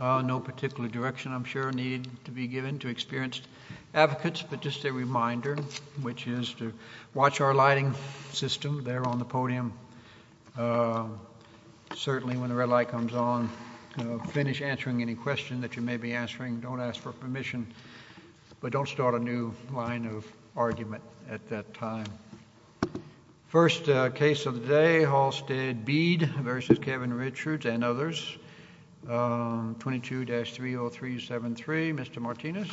No particular direction, I'm sure, needed to be given to experienced advocates, but just a reminder, which is to watch our lighting system there on the podium. Certainly, when the red light comes on, finish answering any question that you may be answering. Don't ask for permission, but don't start a new line of argument at that time. First case of the day, Halstead Bead v. Kevin Richards and others. 22-30373, Mr. Martinez.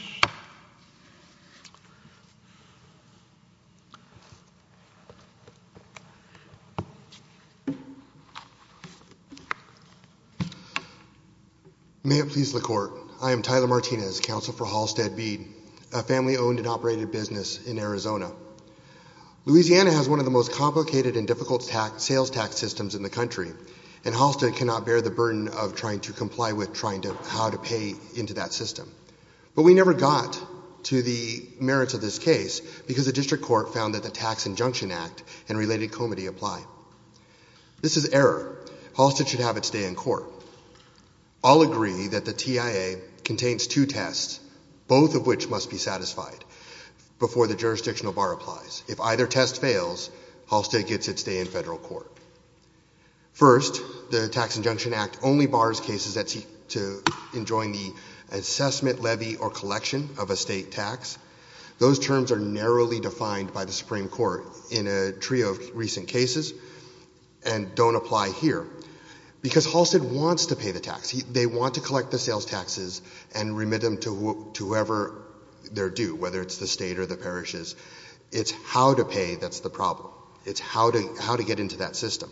May it please the Court, I am Tyler Martinez, counsel for Halstead Bead, a family-owned and operated business in Arizona. Louisiana has one of the most complicated and difficult sales tax systems in the country, and Halstead cannot bear the burden of trying to comply with trying to how to pay into that system. But we never got to the merits of this case, because the district court found that the Tax Injunction Act and related comity apply. This is error. Halstead should have its day in court. I'll agree that the TIA contains two tests, both of which must be satisfied before the jurisdictional bar applies. If either test fails, Halstead gets its day in federal court. First, the Tax Injunction Act only bars cases that seek to enjoin the assessment, levy, or collection of a state tax. Those terms are narrowly defined by the Supreme Court in a trio of recent cases and don't apply here. Because Halstead wants to pay the tax. They want to collect the sales taxes and remit them to whoever they're due, whether it's the state or the parishes. It's how to pay that's the problem. It's how to get into that system.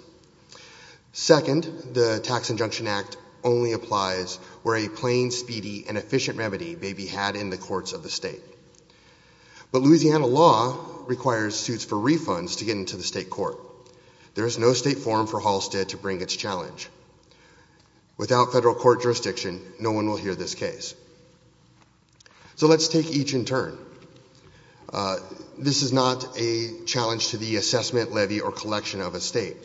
Second, the Tax Injunction Act only applies where a plain, speedy, and efficient remedy may be had in the courts of the state. But Louisiana law requires suits for refunds to get into the state court. There is no state forum for Halstead to bring its challenge. Without federal court jurisdiction, no one will hear this case. So let's take each in turn. This is not a challenge to the assessment, levy, or collection of a state.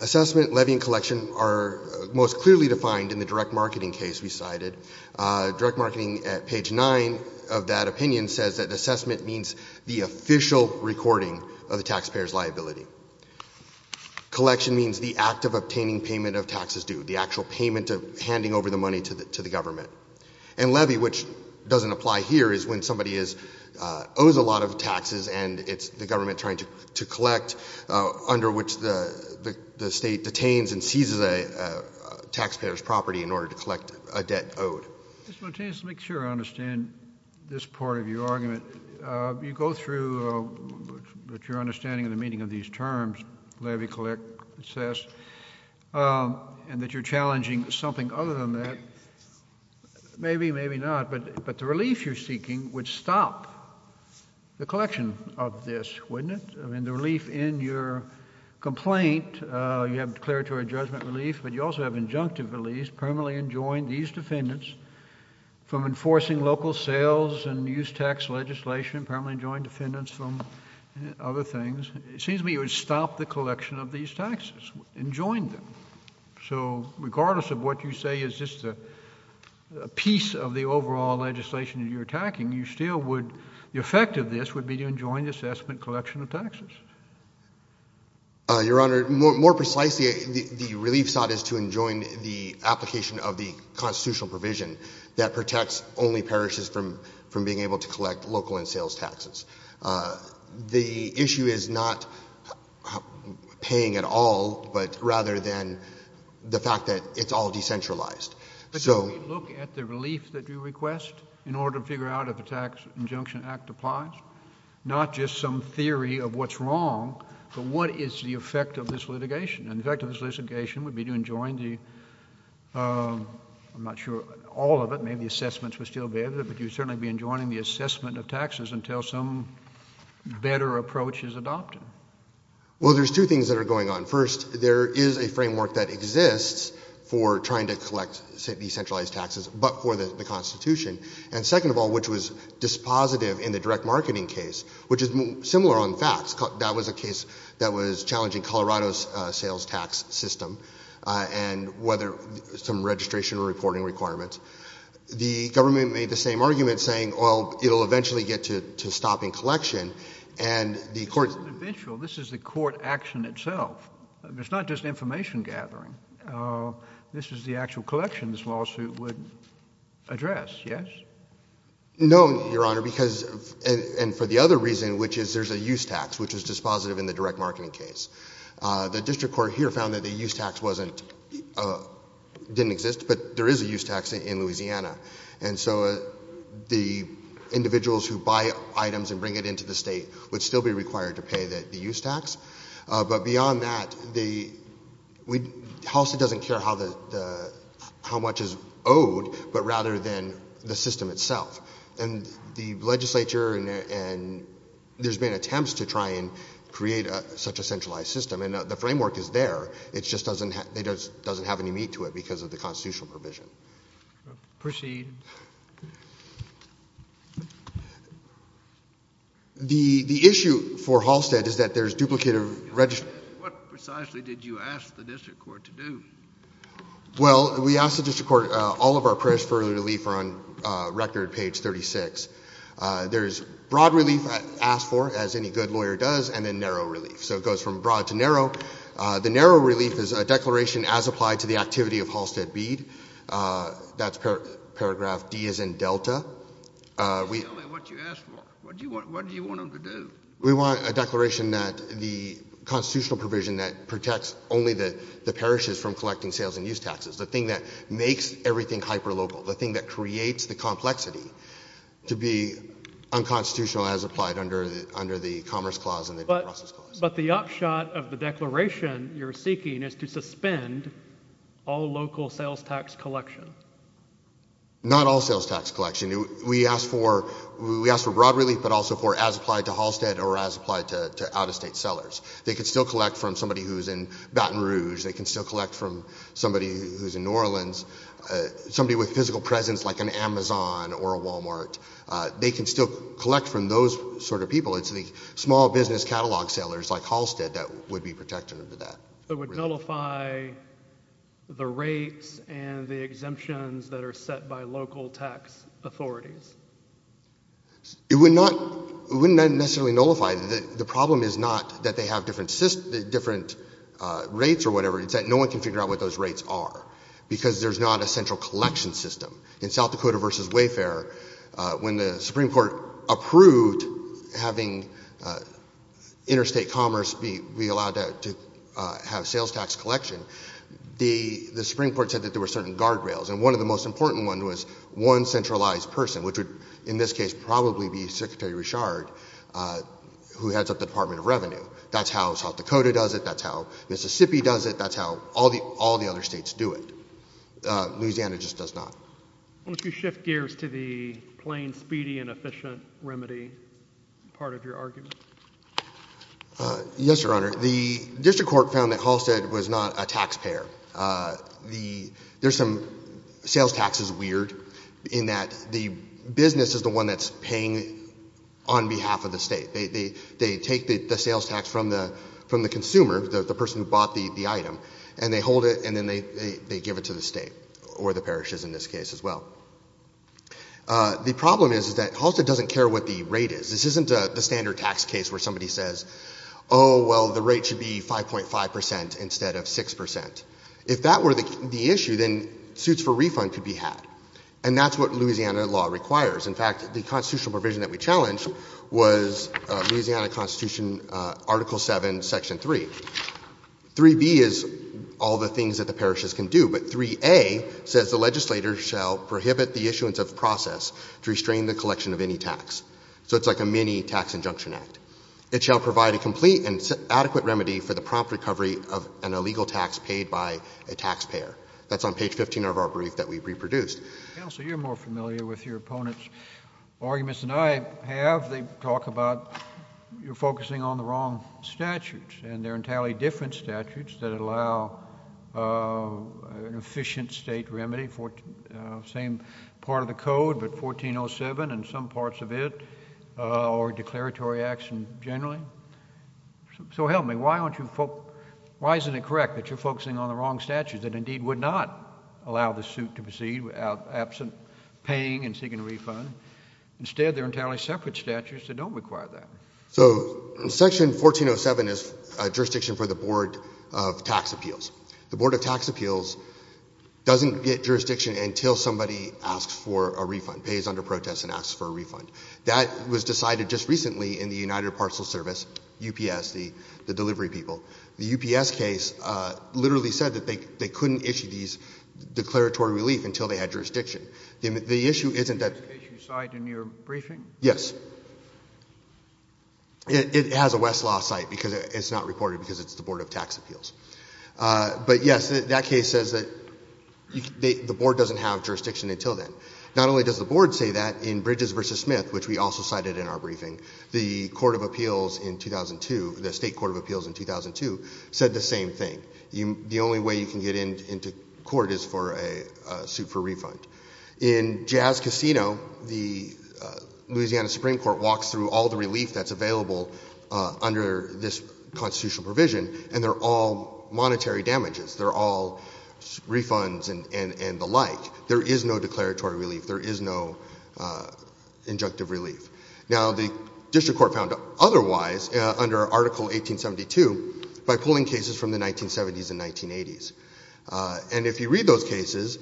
Assessment, levy, and collection are most clearly defined in the direct marketing case we cited. Direct marketing at page 9 of that opinion says that assessment means the official recording of the taxpayer's liability. Collection means the act of obtaining payment of taxes due, the actual payment of handing over the money to the government. And levy, which doesn't apply here, is when somebody owes a lot of taxes and it's the government trying to collect under which the state detains and seizes a taxpayer's property in order to collect a debt owed. Mr. Montanus, to make sure I understand this part of your argument, you go through your understanding of the meaning of these terms, levy, collect, assess, and that you're challenging something other than that. Maybe, maybe not, but the relief you're seeking would stop the collection of this, wouldn't it? I mean, the relief in your complaint, you have declaratory judgment relief, but you also have injunctive relief, permanently enjoined these defendants from enforcing local sales and use tax legislation, permanently enjoined defendants from other things. It seems to me you would stop the collection of these taxes, enjoin them. So regardless of what you say is just a piece of the overall legislation that you're attacking, you still would, the effect of this would be to enjoin the assessment collection of taxes. Your Honor, more precisely, the relief sought is to enjoin the application of the constitutional provision that protects only parishes from being able to collect local and sales taxes. The issue is not paying at all, but rather than the fact that it's all decentralized. But don't we look at the relief that you request in order to figure out if a tax injunction act applies? Not just some theory of what's wrong, but what is the effect of this litigation? And the effect of this litigation would be to enjoin the, I'm not sure, all of it, maybe assessments would still be added, but you'd certainly be enjoining the assessment of taxes until some better approach is adopted. Well, there's two things that are going on. First, there is a framework that exists for trying to collect decentralized taxes, but for the Constitution. And second of all, which was dispositive in the direct marketing case, which is similar on facts. That was a case that was challenging Colorado's sales tax system, and whether some registration or reporting requirements. The government made the same argument saying, well, it'll eventually get to stopping collection, and the court- This isn't eventual. This is the court action itself. It's not just information gathering. This is the actual collection this lawsuit would address, yes? No, Your Honor, because, and for the other reason, which is there's a use tax, which is dispositive in the direct marketing case. The district court here found that the use tax didn't exist, but there is a use tax in Louisiana. And so the individuals who buy items and bring it into the state would still be required to pay the use tax. But beyond that, Halstead doesn't care how much is owed, but rather than the system itself. And the legislature, and there's been attempts to try and create such a centralized system. And the framework is there. It just doesn't have any meat to it because of the constitutional provision. Proceed. The issue for Halstead is that there's duplicated register. What precisely did you ask the district court to do? Well, we asked the district court, all of our prayers for early relief are on record, page 36. There's broad relief asked for, as any good lawyer does, and then narrow relief. So it goes from broad to narrow. The narrow relief is a declaration as applied to the activity of Halstead Bede. That's paragraph D as in delta. Tell me what you asked for. What do you want them to do? We want a declaration that the constitutional provision that protects only the parishes from collecting sales and use taxes. The thing that makes everything hyperlocal. The thing that creates the complexity to be unconstitutional as applied under the commerce clause and the due process clause. But the upshot of the declaration you're seeking is to suspend all local sales tax collection. Not all sales tax collection. We asked for we asked for broad relief, but also for as applied to Halstead or as applied to out-of-state sellers. They could still collect from somebody who's in Baton Rouge. They can still collect from somebody who's in New Orleans, somebody with physical presence like an Amazon or a Walmart. They can still collect from those sort of people. It's the small business catalog sellers like Halstead that would be protected under that. It would nullify the rates and the exemptions that are set by local tax authorities. It would not necessarily nullify. The problem is not that they have different rates or whatever. It's that no one can figure out what those rates are because there's not a central collection system. In South Dakota versus Wayfair, when the Supreme Court approved having interstate commerce be allowed to have sales tax collection, the Supreme Court said that there were certain guardrails. And one of the most important ones was one centralized person, which would in this case probably be Secretary Richard, who heads up the Department of Revenue. That's how South Dakota does it. That's how Mississippi does it. That's how all the other states do it. Louisiana just does not. Why don't you shift gears to the plain, speedy, and efficient remedy part of your argument? Yes, Your Honor. The district court found that Halstead was not a taxpayer. There's some sales taxes weird in that the business is the one that's paying on behalf of the state. They take the sales tax from the consumer, the person who bought the item, and they hold it, and then they give it to the state, or the parishes in this case as well. The problem is that Halstead doesn't care what the rate is. This isn't the standard tax case where somebody says, oh, well, the rate should be 5.5% instead of 6%. If that were the issue, then suits for refund could be had. And that's what Louisiana law requires. In fact, the constitutional provision that we challenged was Louisiana Constitution Article 7, Section 3. 3B is all the things that the parishes can do. But 3A says the legislator shall prohibit the issuance of process to restrain the collection of any tax. So it's like a mini tax injunction act. It shall provide a complete and adequate remedy for the prompt recovery of an illegal tax paid by a taxpayer. That's on page 15 of our brief that we reproduced. Counsel, you're more familiar with your opponent's arguments than I have. They talk about, you're focusing on the wrong statutes. And they're entirely different statutes that allow an efficient state remedy for same part of the code, but 1407 and some parts of it, or declaratory action generally. So help me, why isn't it correct that you're focusing on the wrong statutes that indeed would not allow the suit to proceed without absent paying and seeking a refund? Instead, they're entirely separate statutes that don't require that. So Section 1407 is jurisdiction for the Board of Tax Appeals. The Board of Tax Appeals doesn't get jurisdiction until somebody asks for a refund, pays under protest and asks for a refund. That was decided just recently in the United Parcel Service, UPS, the delivery people. The UPS case literally said that they couldn't issue these declaratory relief until they had jurisdiction. The issue isn't that- This case you cite in your briefing? Yes. It has a Westlaw site because it's not reported because it's the Board of Tax Appeals. But yes, that case says that the Board doesn't have jurisdiction until then. Not only does the Board say that, in Bridges v. Smith, which we also cited in our briefing, the Court of Appeals in 2002, the State Court of Appeals in 2002, said the same thing. The only way you can get into court is for a suit for refund. In Jazz Casino, the Louisiana Supreme Court walks through all the relief that's available under this constitutional provision, and they're all monetary damages. They're all refunds and the like. There is no declaratory relief. There is no injunctive relief. Now, the district court found otherwise under Article 1872 by pulling cases from the 1970s and 1980s. And if you read those cases,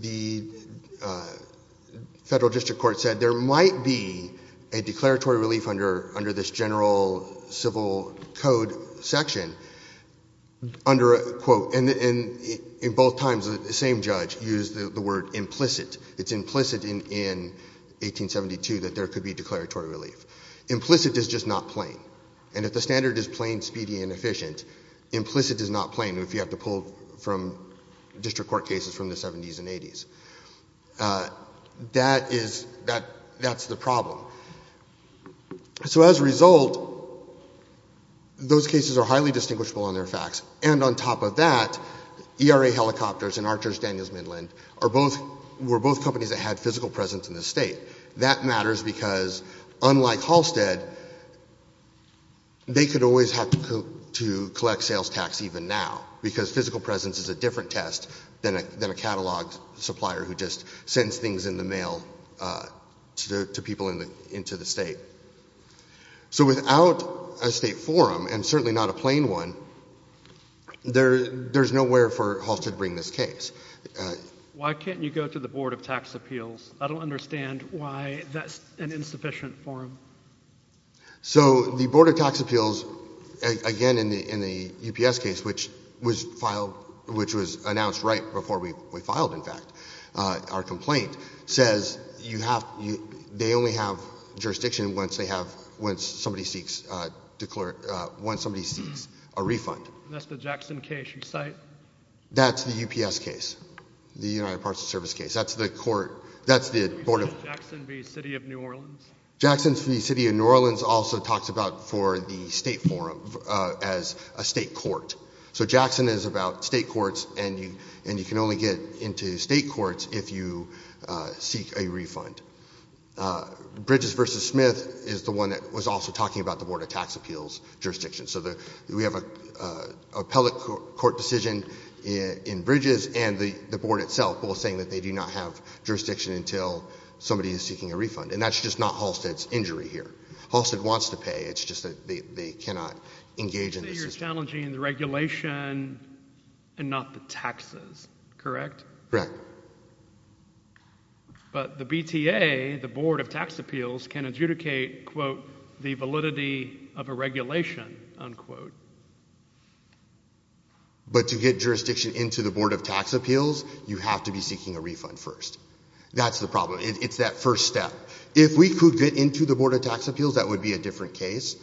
the federal district court said there might be a declaratory relief under this general civil code section under a quote. And in both times, the same judge used the word implicit. It's implicit in 1872 that there could be declaratory relief. Implicit is just not plain. And if the standard is plain, speedy, and efficient, implicit is not plain if you have to pull from district court cases from the 70s and 80s. That is, that's the problem. So as a result, those cases are highly distinguishable on their facts. And on top of that, ERA Helicopters and Archers Daniels Midland were both companies that had physical presence in the state. That matters because, unlike Halstead, they could always have to collect sales tax even now, because physical presence is a different test than a catalog supplier who just sends things in the mail to people into the state. So without a state forum, and certainly not a plain one, there's nowhere for Halstead to bring this case. Why can't you go to the Board of Tax Appeals? I don't understand why that's an insufficient forum. So the Board of Tax Appeals, again, in the UPS case, which was announced right before we filed, in fact, our complaint, says they only have jurisdiction once somebody seeks a refund. That's the Jackson case you cite? That's the UPS case, the United Parts of Service case. That's the court, that's the Board of- You said Jackson v. City of New Orleans? Jackson v. City of New Orleans also talks about for the state forum as a state court. So Jackson is about state courts, and you can only get into state courts if you seek a refund. Bridges v. Smith is the one that was also talking about the Board of Tax Appeals jurisdiction. So we have an appellate court decision in Bridges and the board itself, both saying that they do not have jurisdiction until somebody is seeking a refund. And that's just not Halstead's injury here. Halstead wants to pay. It's just that they cannot engage in this- So you're challenging the regulation and not the taxes, correct? Correct. But the BTA, the Board of Tax Appeals, can adjudicate, quote, the validity of a regulation, unquote. But to get jurisdiction into the Board of Tax Appeals, you have to be seeking a refund first. That's the problem. It's that first step. If we could get into the Board of Tax Appeals, that would be a different case.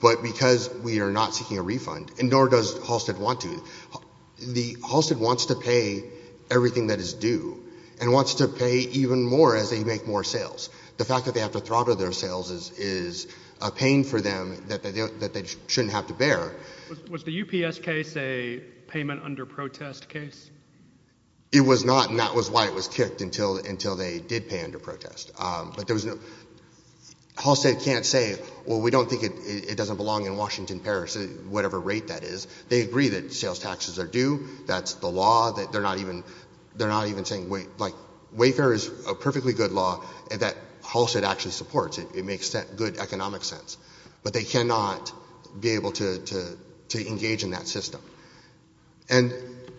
But because we are not seeking a refund, and nor does Halstead want to, Halstead wants to pay everything that is due and wants to pay even more as they make more sales. The fact that they have to throttle their sales is a pain for them that they shouldn't have to bear. Was the UPS case a payment under protest case? It was not, and that was why it was kicked until they did pay under protest. But there was no- Halstead can't say, well, we don't think it doesn't belong in Washington, Paris, whatever rate that is. They agree that sales taxes are due. That's the law, that they're not even saying- Like, Wayfair is a perfectly good law that Halstead actually supports. It makes good economic sense. But they cannot be able to engage in that system. And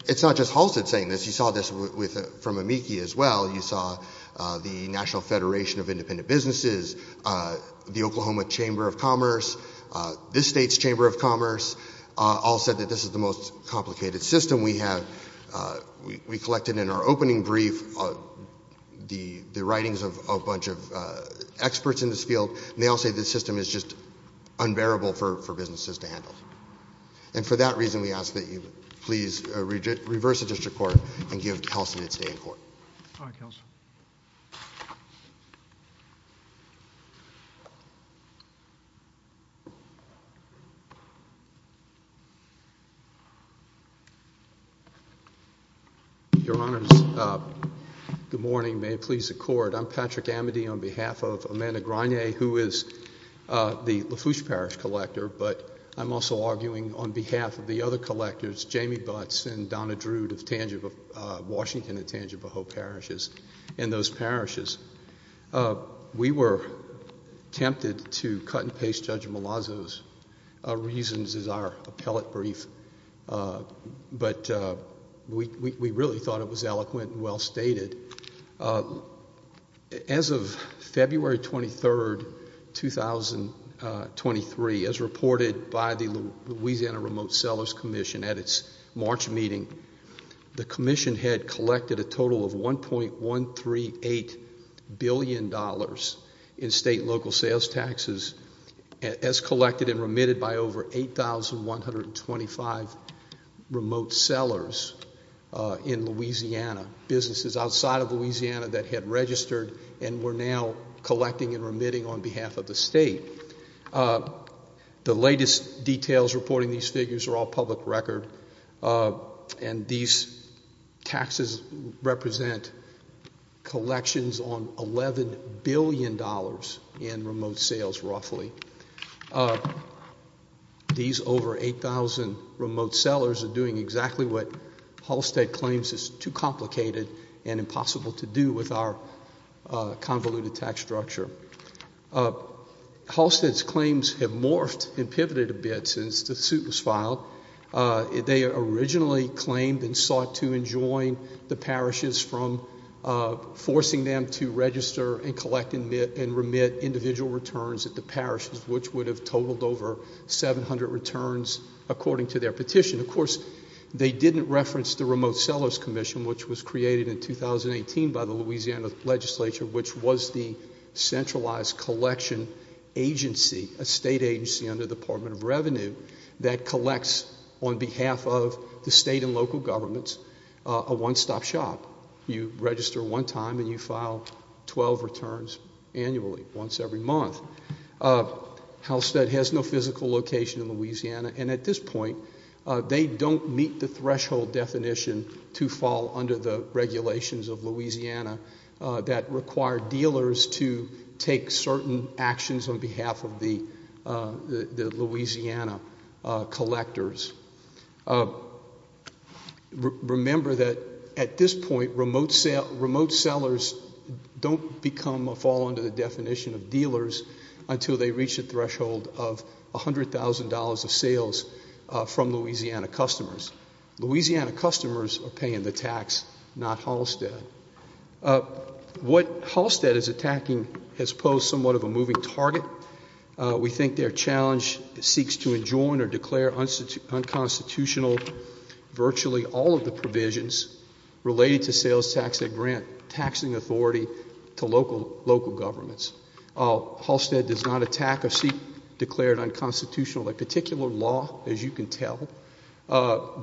it's not just Halstead saying this. You saw this from AMICI as well. You saw the National Federation of Independent Businesses, the Oklahoma Chamber of Commerce, this state's Chamber of Commerce all said that this is the most complicated system we have. We collected in our opening brief the writings of a bunch of experts in this field, and they all say this system is just unbearable for businesses to handle. And for that reason, we ask that you please reverse the District Court and give Kelsen its day in court. All right, Counselor. Your Honors, good morning. May it please the Court. I'm Patrick Amity on behalf of Amanda Gragne, who is the Lafourche Parish collector, but I'm also arguing on behalf of the other collectors, Jamie Butts and Donna Drude of Washington at Tangivaho Parishes and those parishes. We were tempted to cut and paste Judge Malazzo's reasons as our appellate brief, but we really thought it was eloquent and well stated. As of February 23rd, 2023, as reported by the Louisiana Remote Sellers Commission at its March meeting, the commission had collected a total of $1.138 billion in state and local sales taxes as collected and remitted by over 8,125 remote sellers in Louisiana, businesses outside of Louisiana that had registered and were now collecting and remitting on behalf of the state. The latest details reporting these figures are all public record, and these taxes represent collections on $11 billion in remote sales, roughly. These over 8,000 remote sellers are doing exactly what Halstead claims is too complicated and impossible to do with our convoluted tax structure. Halstead's claims have morphed and pivoted a bit since the suit was filed. They originally claimed and sought to enjoin the parishes from forcing them to register and remit individual returns at the parishes, which would have totaled over 700 returns according to their petition. Of course, they didn't reference the Remote Sellers Commission, which was created in 2018 by the Louisiana Legislature, which was the centralized collection agency, a state agency under the Department of Revenue, that collects on behalf of the state and local governments a one-stop shop. You register one time and you file 12 returns annually, once every month. Halstead has no physical location in Louisiana, and at this point, they don't meet the threshold definition to fall under the regulations of Louisiana that require dealers to take certain actions on behalf of the Louisiana collectors. Remember that at this point, remote sellers don't become or fall under the definition of dealers until they reach the threshold of $100,000 of sales from Louisiana customers. Louisiana customers are paying the tax, not Halstead. What Halstead is attacking has posed somewhat of a moving target. We think their challenge seeks to enjoin or declare unconstitutional virtually all of the provisions related to sales tax that grant taxing authority to local governments. Halstead does not attack or seek declared unconstitutional. That particular law, as you can tell,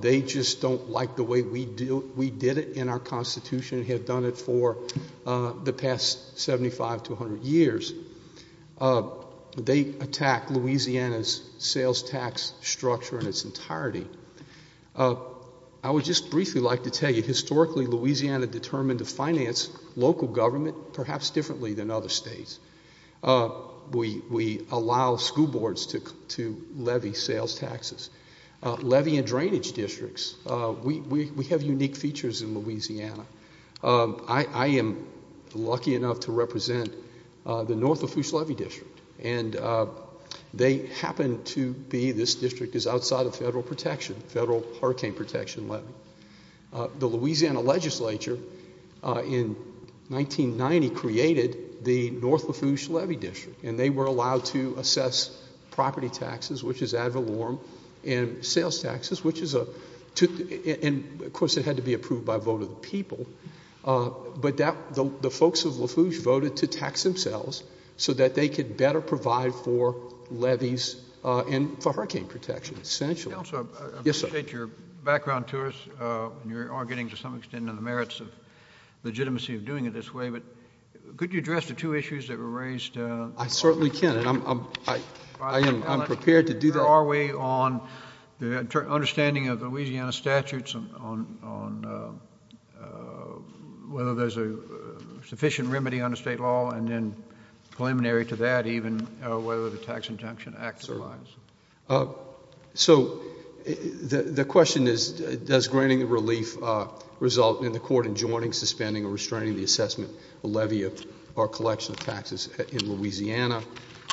they just don't like the way we did it in our constitution and have done it for the past 75 to 100 years. They attack Louisiana's sales tax structure in its entirety. I would just briefly like to tell you, historically, Louisiana determined to finance local government, perhaps differently than other states. We allow school boards to levy sales taxes. Levy and drainage districts, we have unique features in Louisiana. I am lucky enough to represent the North Lafourche Levy District. And they happen to be, this district is outside of federal protection, federal hurricane protection levy. The Louisiana legislature in 1990 created the North Lafourche Levy District. And they were allowed to assess property taxes, which is ad valorem, and sales taxes, which is a, and of course it had to be approved by a vote of the people. But the folks of Lafourche voted to tax themselves so that they could better provide for levies and for hurricane protection, essentially. Yes, sir. I appreciate your background to us, and you are getting to some extent in the merits of legitimacy of doing it this way. But could you address the two issues that were raised? I certainly can, and I'm prepared to do that. How far are we on the understanding of Louisiana statutes on whether there's a sufficient remedy under state law? And then preliminary to that, even whether the tax injunction acts or lies. So the question is, does granting relief result in the court enjoining, suspending, or restraining the assessment, levy, or collection of taxes in Louisiana?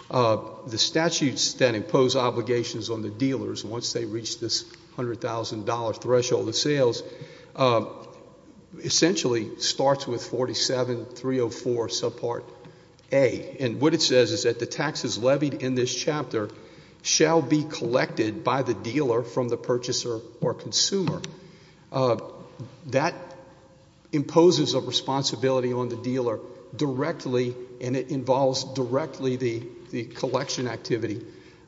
The statutes that impose obligations on the dealers once they reach this $100,000 threshold of sales, essentially starts with 47304 subpart A. And what it says is that the taxes levied in this chapter shall be collected by the dealer from the purchaser or consumer. That imposes a responsibility on the dealer directly and it involves directly the collection activity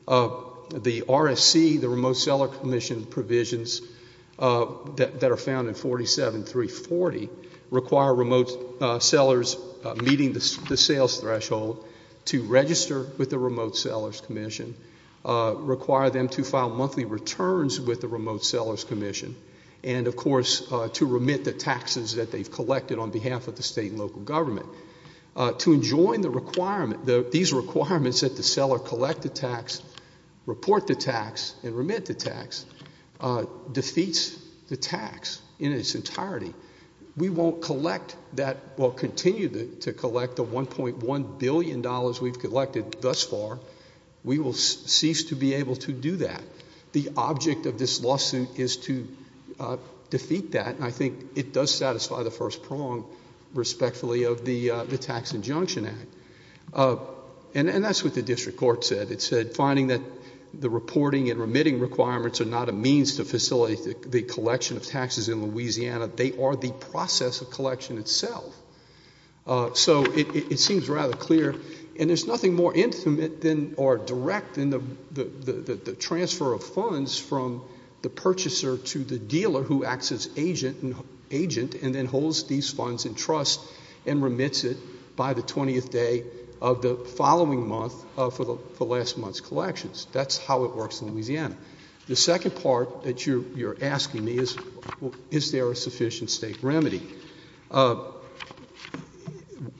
of the RSC, the Remote Seller Commission provisions that are found in 47340, require remote sellers meeting the sales threshold to register with the Remote Sellers Commission, require them to file monthly returns with the Remote Sellers Commission, and of course, to remit the taxes that they've collected on behalf of the state and local government. To enjoin the requirement, these requirements that the seller collect the tax, report the tax, and remit the tax, defeats the tax in its entirety. We won't collect that, we'll continue to collect the $1.1 billion we've collected thus far. We will cease to be able to do that. The object of this lawsuit is to defeat that, and I think it does satisfy the first prong, respectfully, of the Tax Injunction Act. And that's what the district court said. It said, finding that the reporting and remitting requirements are not a means to facilitate the collection of taxes in Louisiana. They are the process of collection itself. So it seems rather clear, and there's nothing more intimate than, or direct than the transfer of funds from the purchaser to the dealer who acts as agent and then holds these funds in trust and remits it by the 20th day of the following month for last month's collections. That's how it works in Louisiana. The second part that you're asking me is, is there a sufficient state remedy?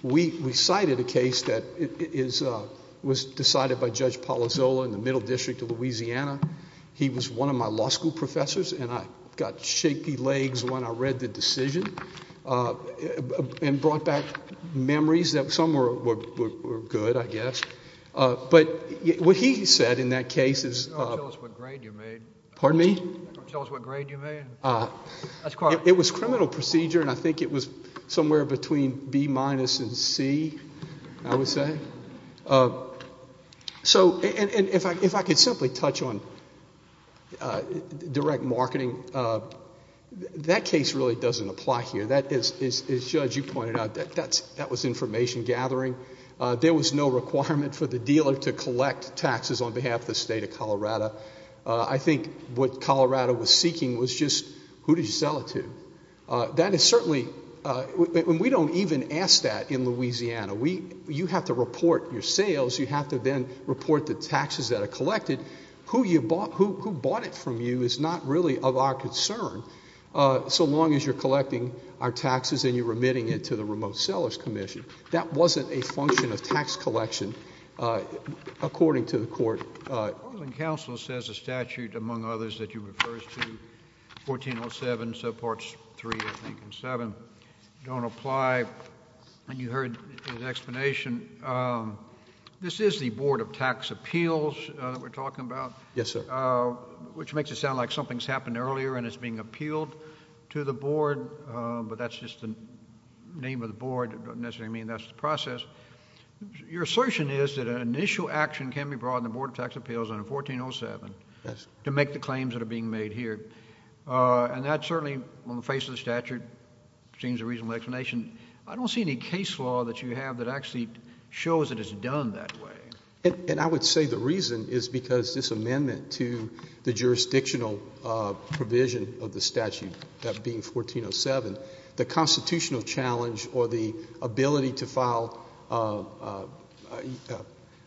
We cited a case that was decided by Judge Palazzolo in the Middle District of Louisiana. He was one of my law school professors, and I got shaky legs when I read the decision. And brought back memories that some were good, I guess. But what he said in that case is- Tell us what grade you made. Pardon me? Tell us what grade you made. It was criminal procedure, and I think it was somewhere between B minus and C, I would say. So, and if I could simply touch on direct marketing. That case really doesn't apply here. That is, as Judge, you pointed out, that was information gathering. There was no requirement for the dealer to collect taxes on behalf of the state of Colorado. I think what Colorado was seeking was just, who did you sell it to? That is certainly, and we don't even ask that in Louisiana. You have to report your sales, you have to then report the taxes that are collected. Who bought it from you is not really of our concern, so long as you're collecting our taxes and you're remitting it to the Remote Sellers Commission. That wasn't a function of tax collection, according to the court. Portland Council says a statute, among others, that you refer to, 1407, so parts three, I think, and seven, don't apply. And you heard the explanation. This is the Board of Tax Appeals that we're talking about. Yes, sir. Which makes it sound like something's happened earlier and it's being appealed to the board, but that's just the name of the board, it doesn't necessarily mean that's the process. Your assertion is that an initial action can be brought in the Board of Tax Appeals on a 1407 to make the claims that are being made here. And that certainly, on the face of the statute, seems a reasonable explanation. I don't see any case law that you have that actually shows it is done that way. And I would say the reason is because this amendment to the jurisdictional provision of the statute, that being 1407, the constitutional challenge or the ability to file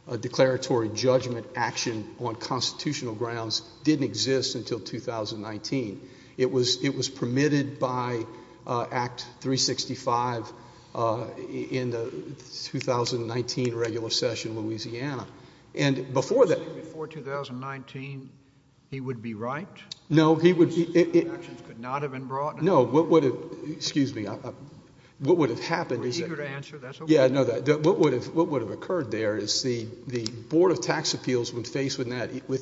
a declaratory judgment action on constitutional grounds didn't exist until 2019. It was permitted by Act 365 in the 2019 regular session in Louisiana. And before that- So before 2019, he would be right? No, he would be- These actions could not have been brought in the- No, what would have, excuse me, what would have happened is that- We're eager to answer, that's okay. Yeah, I know that. What would have occurred there is the Board of Tax Appeals, when faced with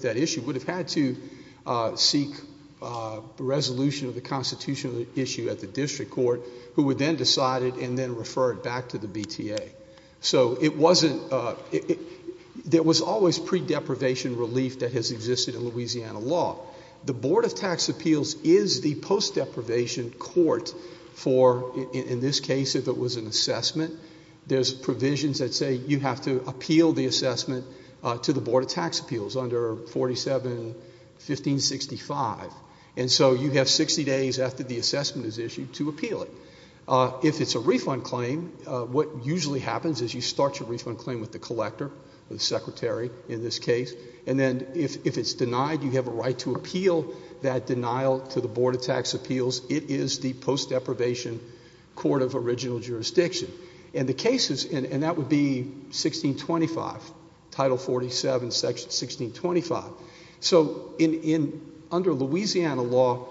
that issue, would have had to seek a resolution of the constitutional issue at the district court, who would then decide it and then refer it back to the BTA. So it wasn't, there was always pre-deprivation relief that has existed in Louisiana law. The Board of Tax Appeals is the post-deprivation court for, in this case, if it was an assessment. There's provisions that say you have to appeal the assessment to the Board of Tax Appeals under 47-1565. And so you have 60 days after the assessment is issued to appeal it. If it's a refund claim, what usually happens is you start your refund claim with the collector, the secretary in this case. And then if it's denied, you have a right to appeal that denial to the Board of Tax Appeals. It is the post-deprivation court of original jurisdiction. And the cases, and that would be 1625, Title 47, Section 1625. So under Louisiana law,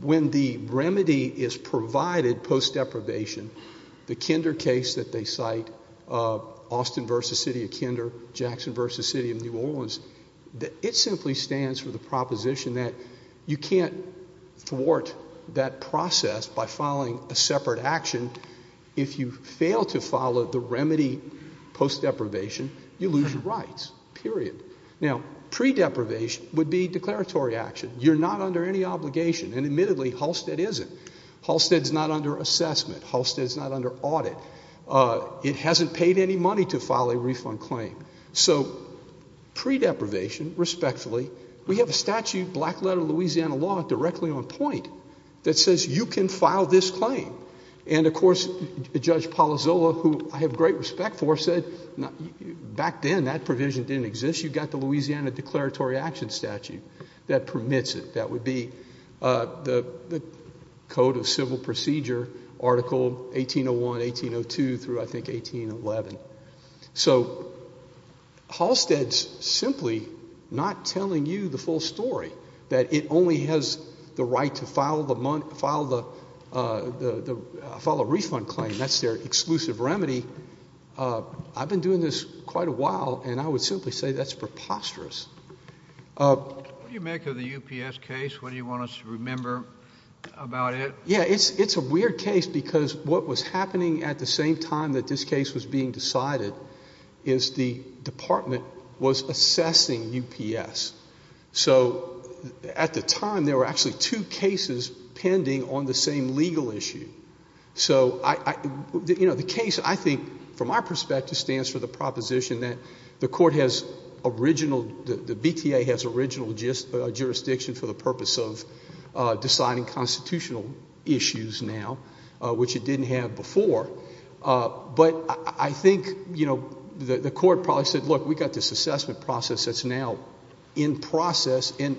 when the remedy is provided post-deprivation, the Kinder case that they cite, Austin versus City of Kinder, Jackson versus City of New Orleans. It simply stands for the proposition that you can't thwart that process by following a separate action. If you fail to follow the remedy post-deprivation, you lose your rights, period. Now, pre-deprivation would be declaratory action. You're not under any obligation, and admittedly, Halstead isn't. Halstead's not under assessment. Halstead's not under audit. It hasn't paid any money to file a refund claim. So pre-deprivation, respectfully, we have a statute, black letter Louisiana law, directly on point that says you can file this claim. And of course, Judge Palazzolo, who I have great respect for, said back then that provision didn't exist. You got the Louisiana Declaratory Action Statute that permits it. That would be the Code of Civil Procedure, Article 1801, 1802, through, I think, 1811. So Halstead's simply not telling you the full story, that it only has the right to file a refund claim. That's their exclusive remedy. I've been doing this quite a while, and I would simply say that's preposterous. What do you make of the UPS case? What do you want us to remember about it? Yeah, it's a weird case, because what was happening at the same time that this case was being decided is the department was assessing UPS. So at the time, there were actually two cases pending on the same legal issue. So the case, I think, from our perspective, stands for the proposition that the BTA has original jurisdiction for the purpose of deciding constitutional issues now, which it didn't have before. But I think the court probably said, look, we got this assessment process that's now in process. And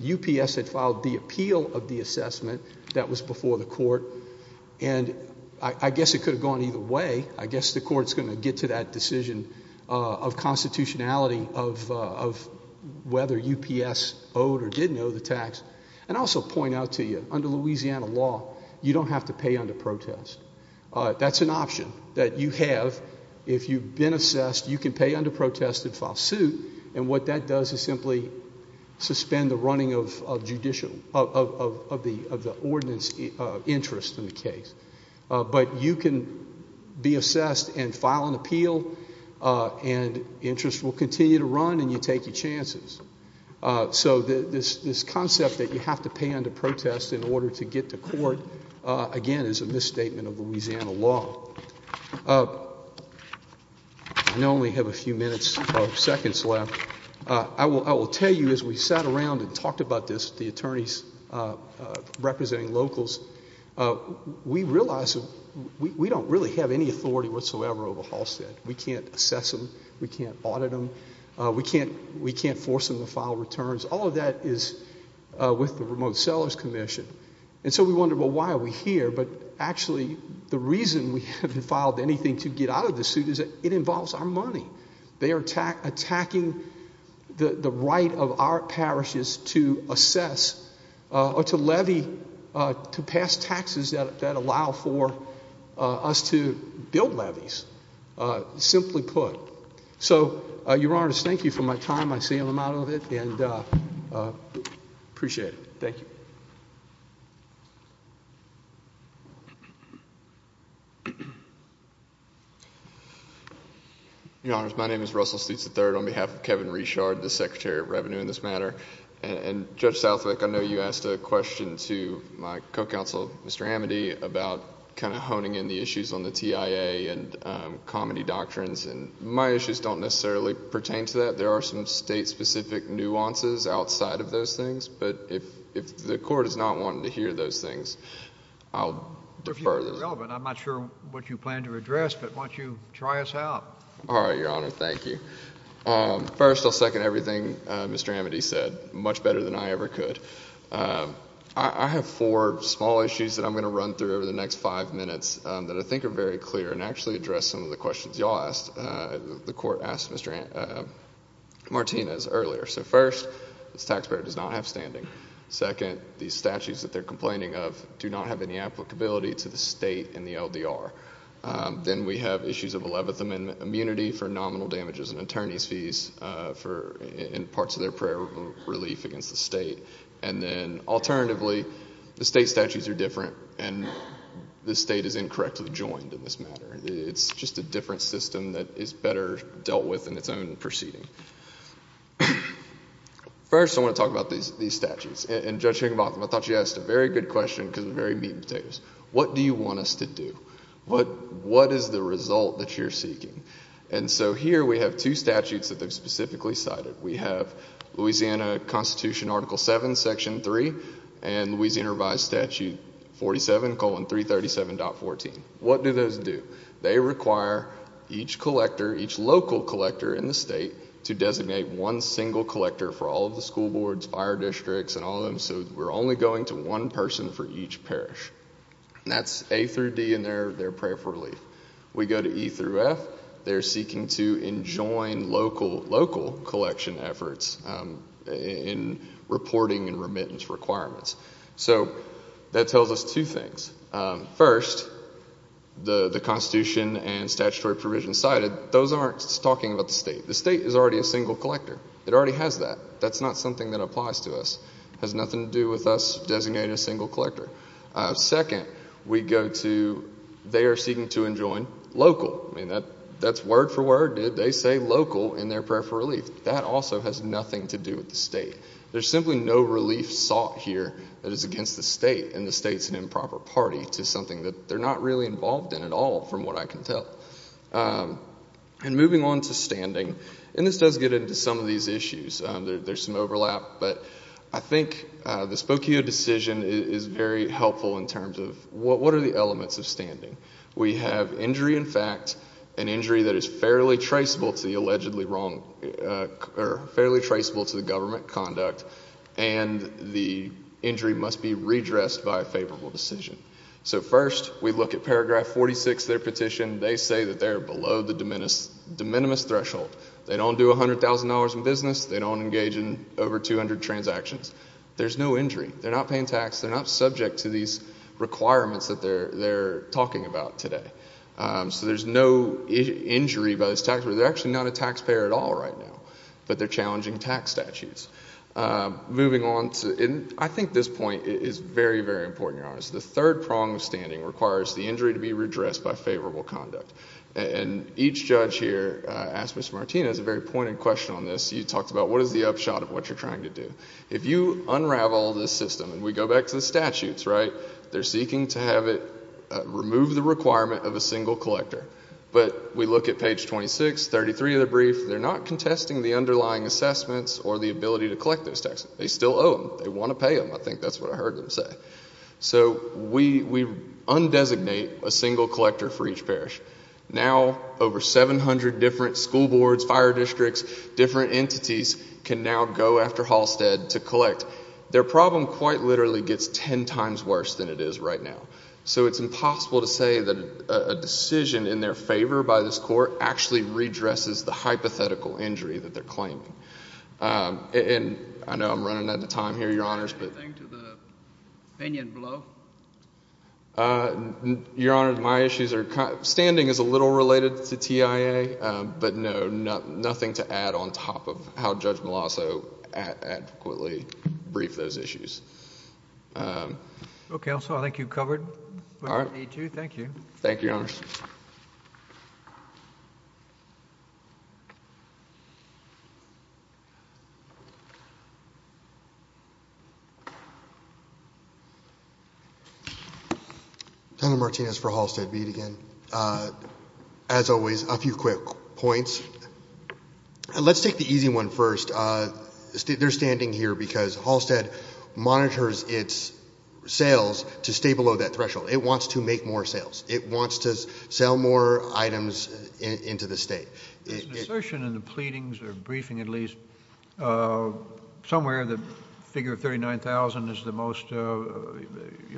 UPS had filed the appeal of the assessment that was before the court. And I guess it could have gone either way. I guess the court's going to get to that decision of constitutionality of whether UPS owed or didn't owe the tax. And I'll also point out to you, under Louisiana law, you don't have to pay under protest. That's an option that you have. If you've been assessed, you can pay under protest and file suit. And what that does is simply suspend the running of the ordinance interest in the case. But you can be assessed and file an appeal, and interest will continue to run, and you take your chances. So this concept that you have to pay under protest in order to get to court, again, is a misstatement of Louisiana law. I only have a few minutes or seconds left. I will tell you, as we sat around and talked about this, the attorneys representing locals, we realized that we don't really have any authority whatsoever over Halstead. We can't assess them, we can't audit them, we can't force them to file returns. All of that is with the Remote Sellers Commission. And so we wondered, well, why are we here? But actually, the reason we haven't filed anything to get out of this suit is that it involves our money. They are attacking the right of our parishes to assess or to levy, to pass taxes that allow for us to build levees, simply put. So, your honors, thank you for my time. I see I'm out of it, and I appreciate it. Thank you. Your honors, my name is Russell Stitz III on behalf of Kevin Richard, the Secretary of Revenue in this matter. And Judge Southwick, I know you asked a question to my co-counsel, Mr. Amity, about kind of honing in the issues on the TIA and comedy doctrines. And my issues don't necessarily pertain to that. There are some state-specific nuances outside of those things. But if the court is not wanting to hear those things, I'll defer them. If you think they're relevant, I'm not sure what you plan to address, but why don't you try us out? All right, your honor, thank you. First, I'll second everything Mr. Amity said, much better than I ever could. I have four small issues that I'm going to run through over the next five minutes that I think are very clear and actually address some of the questions you all asked, the court asked Mr. Martinez earlier. So first, this taxpayer does not have standing. Second, these statutes that they're complaining of do not have any applicability to the state and the LDR. Then we have issues of 11th Amendment immunity for nominal damages and attorney's fees in parts of their prayer relief against the state. And then alternatively, the state statutes are different, and the state is incorrectly joined in this matter. It's just a different system that is better dealt with in its own proceeding. First, I want to talk about these statutes. And Judge Higginbotham, I thought she asked a very good question because we're very meat and potatoes. What do you want us to do? What is the result that you're seeking? And so here we have two statutes that they've specifically cited. We have Louisiana Constitution Article 7, Section 3, and Louisiana Revised Statute 47, 337.14. What do those do? They require each collector, each local collector in the state, to designate one single collector for all of the school boards, fire districts, and all of them. So we're only going to one person for each parish. And that's A through D in their prayer for relief. We go to E through F, they're seeking to enjoin local collection efforts in reporting and remittance requirements. So that tells us two things. First, the Constitution and statutory provisions cited, those aren't talking about the state. The state is already a single collector. It already has that. That's not something that applies to us. It has nothing to do with us designating a single collector. Second, we go to, they are seeking to enjoin local. I mean, that's word for word, dude. They say local in their prayer for relief. That also has nothing to do with the state. There's simply no relief sought here that is against the state, and the state's an improper party to something that they're not really involved in at all, from what I can tell. And moving on to standing, and this does get into some of these issues. There's some overlap, but I think the Spokio decision is very helpful in terms of what are the elements of standing? We have injury in fact, an injury that is fairly traceable to the government conduct, and the injury must be redressed by a favorable decision. So first, we look at paragraph 46 of their petition. They say that they're below the de minimis threshold. They don't do $100,000 in business. They don't engage in over 200 transactions. There's no injury. They're not paying tax. They're not subject to these requirements that they're talking about today. So there's no injury by this tax, they're actually not a taxpayer at all right now. But they're challenging tax statutes. Moving on to, and I think this point is very, very important, Your Honor. So the third prong of standing requires the injury to be redressed by favorable conduct. And each judge here, asked Mr. Martinez a very pointed question on this. You talked about what is the upshot of what you're trying to do? If you unravel this system, and we go back to the statutes, right? They're seeking to have it remove the requirement of a single collector. But we look at page 26, 33 of the brief, they're not contesting the underlying assessments or the ability to collect those taxes. They still owe them, they wanna pay them. I think that's what I heard them say. So we undesignate a single collector for each parish. Now, over 700 different school boards, fire districts, different entities can now go after Halstead to collect. Their problem quite literally gets ten times worse than it is right now. So it's impossible to say that a decision in their favor by this court actually redresses the hypothetical injury that they're claiming. And I know I'm running out of time here, Your Honors, but- Anything to the opinion below? Your Honor, my issues are, standing is a little related to TIA. But no, nothing to add on top of how Judge Meloso adequately briefed those issues. Okay, so I think you've covered what I need to. Thank you. Thank you, Your Honors. Daniel Martinez for Halstead Beat again. As always, a few quick points. Let's take the easy one first. They're standing here because Halstead monitors its sales to stay below that threshold. It wants to make more sales. It wants to sell more items into the state. There's an assertion in the pleadings, or briefing at least, somewhere the figure of 39,000 is the most your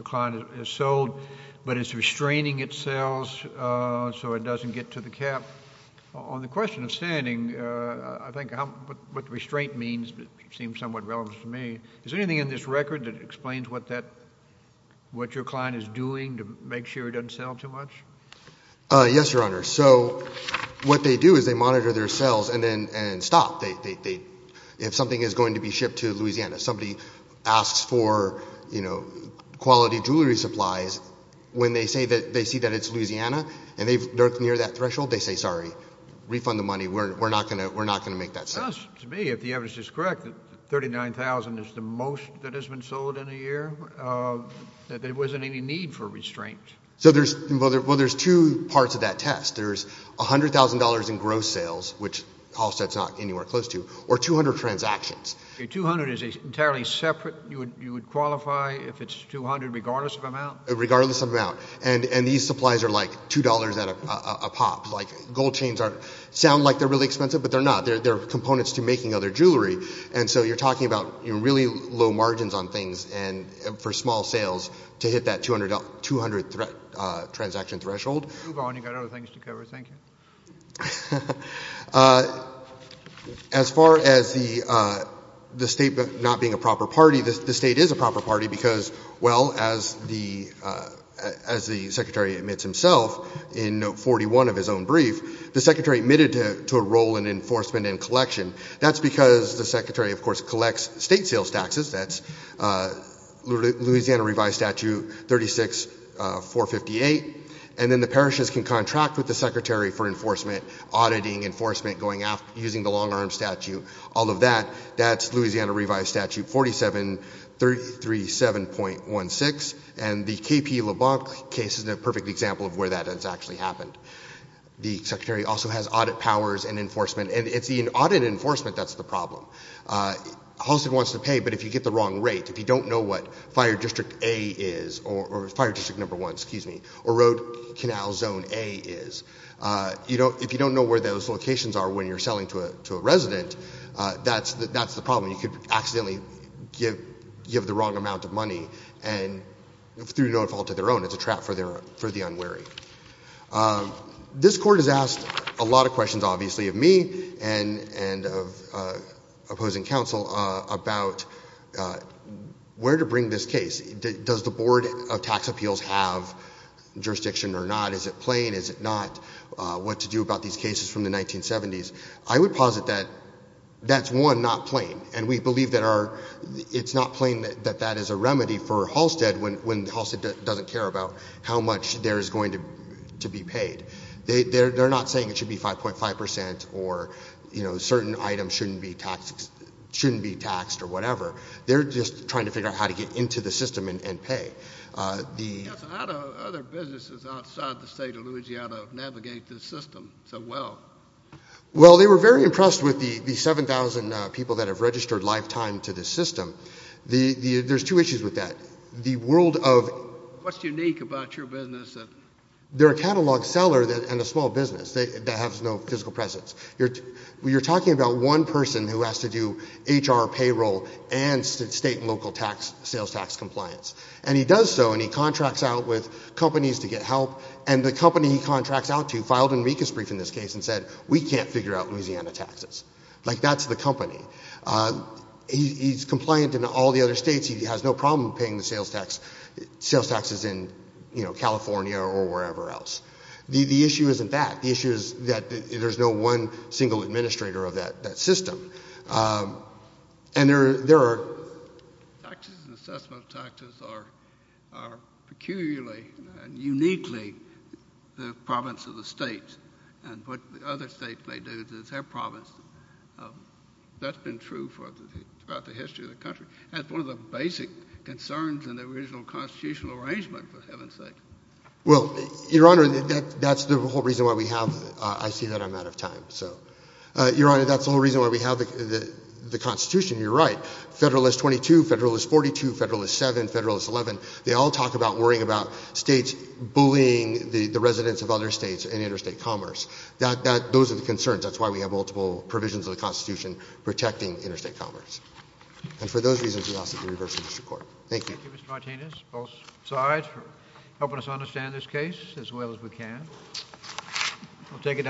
client has sold. But it's restraining its sales so it doesn't get to the cap. On the question of standing, I think what restraint means seems somewhat relevant to me. Is there anything in this record that explains what your client is doing to make sure it doesn't sell too much? Yes, Your Honor. So what they do is they monitor their sales and stop. If something is going to be shipped to Louisiana, somebody asks for quality jewelry supplies. When they see that it's Louisiana and they're near that threshold, they say, sorry, refund the money. We're not going to make that sale. To me, if the evidence is correct, that 39,000 is the most that has been sold in a year, that there wasn't any need for restraint. So there's two parts of that test. There's $100,000 in gross sales, which Halstead's not anywhere close to, or 200 transactions. 200 is entirely separate. You would qualify if it's 200 regardless of amount? Regardless of amount. And these supplies are like $2 at a pop. Like gold chains sound like they're really expensive, but they're not. They're components to making other jewelry. And so you're talking about really low margins on things and for small sales to hit that 200 transaction threshold. You go on, you've got other things to cover, thank you. As far as the state not being a proper party, the state is a proper party because, well, as the secretary admits himself in note 41 of his own brief, the secretary admitted to a role in enforcement and collection. That's because the secretary, of course, collects state sales taxes. That's Louisiana revised statute 36-458. And then the parishes can contract with the secretary for enforcement, auditing, enforcement, using the long arm statute, all of that. That's Louisiana revised statute 47-337.16. And the KP LeBlanc case is a perfect example of where that has actually happened. The secretary also has audit powers and enforcement, and it's in audit enforcement that's the problem. Halstead wants to pay, but if you get the wrong rate, if you don't know what fire district A is, or fire district number one, excuse me, or road canal zone A is, if you don't know where those locations are when you're selling to a resident, that's the problem. You could accidentally give the wrong amount of money and through no fault of their own, it's a trap for the unwary. This court has asked a lot of questions, obviously, of me and of opposing counsel about where to bring this case. Does the board of tax appeals have jurisdiction or not? Is it plain? Is it not? What to do about these cases from the 1970s? I would posit that that's one, not plain. And we believe that it's not plain that that is a remedy for Halstead when Halstead doesn't care about how much there is going to be paid. They're not saying it should be 5.5% or certain items shouldn't be taxed or whatever. They're just trying to figure out how to get into the system and pay. A lot of other businesses outside the state of Louisiana navigate this system so well. Well, they were very impressed with the 7,000 people that have registered lifetime to this system. There's two issues with that. The world of- What's unique about your business? They're a catalog seller and a small business that has no physical presence. You're talking about one person who has to do HR payroll and state and local sales tax compliance. And he does so and he contracts out with companies to get help. And the company he contracts out to filed an amicus brief in this case and said, we can't figure out Louisiana taxes. Like, that's the company. He's compliant in all the other states. He has no problem paying the sales taxes in California or wherever else. The issue isn't that. The issue is that there's no one single administrator of that system. And there are- Taxes and assessment of taxes are peculiarly and uniquely the province of the state. And what the other states may do is it's their province. That's been true throughout the history of the country. That's one of the basic concerns in the original constitutional arrangement, for heaven's sake. Well, Your Honor, that's the whole reason why we have- I see that I'm out of time. So, Your Honor, that's the whole reason why we have the Constitution. You're right. Federalist 22, Federalist 42, Federalist 7, Federalist 11. They all talk about worrying about states bullying the residents of other states and interstate commerce. Those are the concerns. That's why we have multiple provisions of the Constitution protecting interstate commerce. Thank you. Thank you, Mr. Martinez, both sides, for helping us understand this case as well as we can. We'll take it down.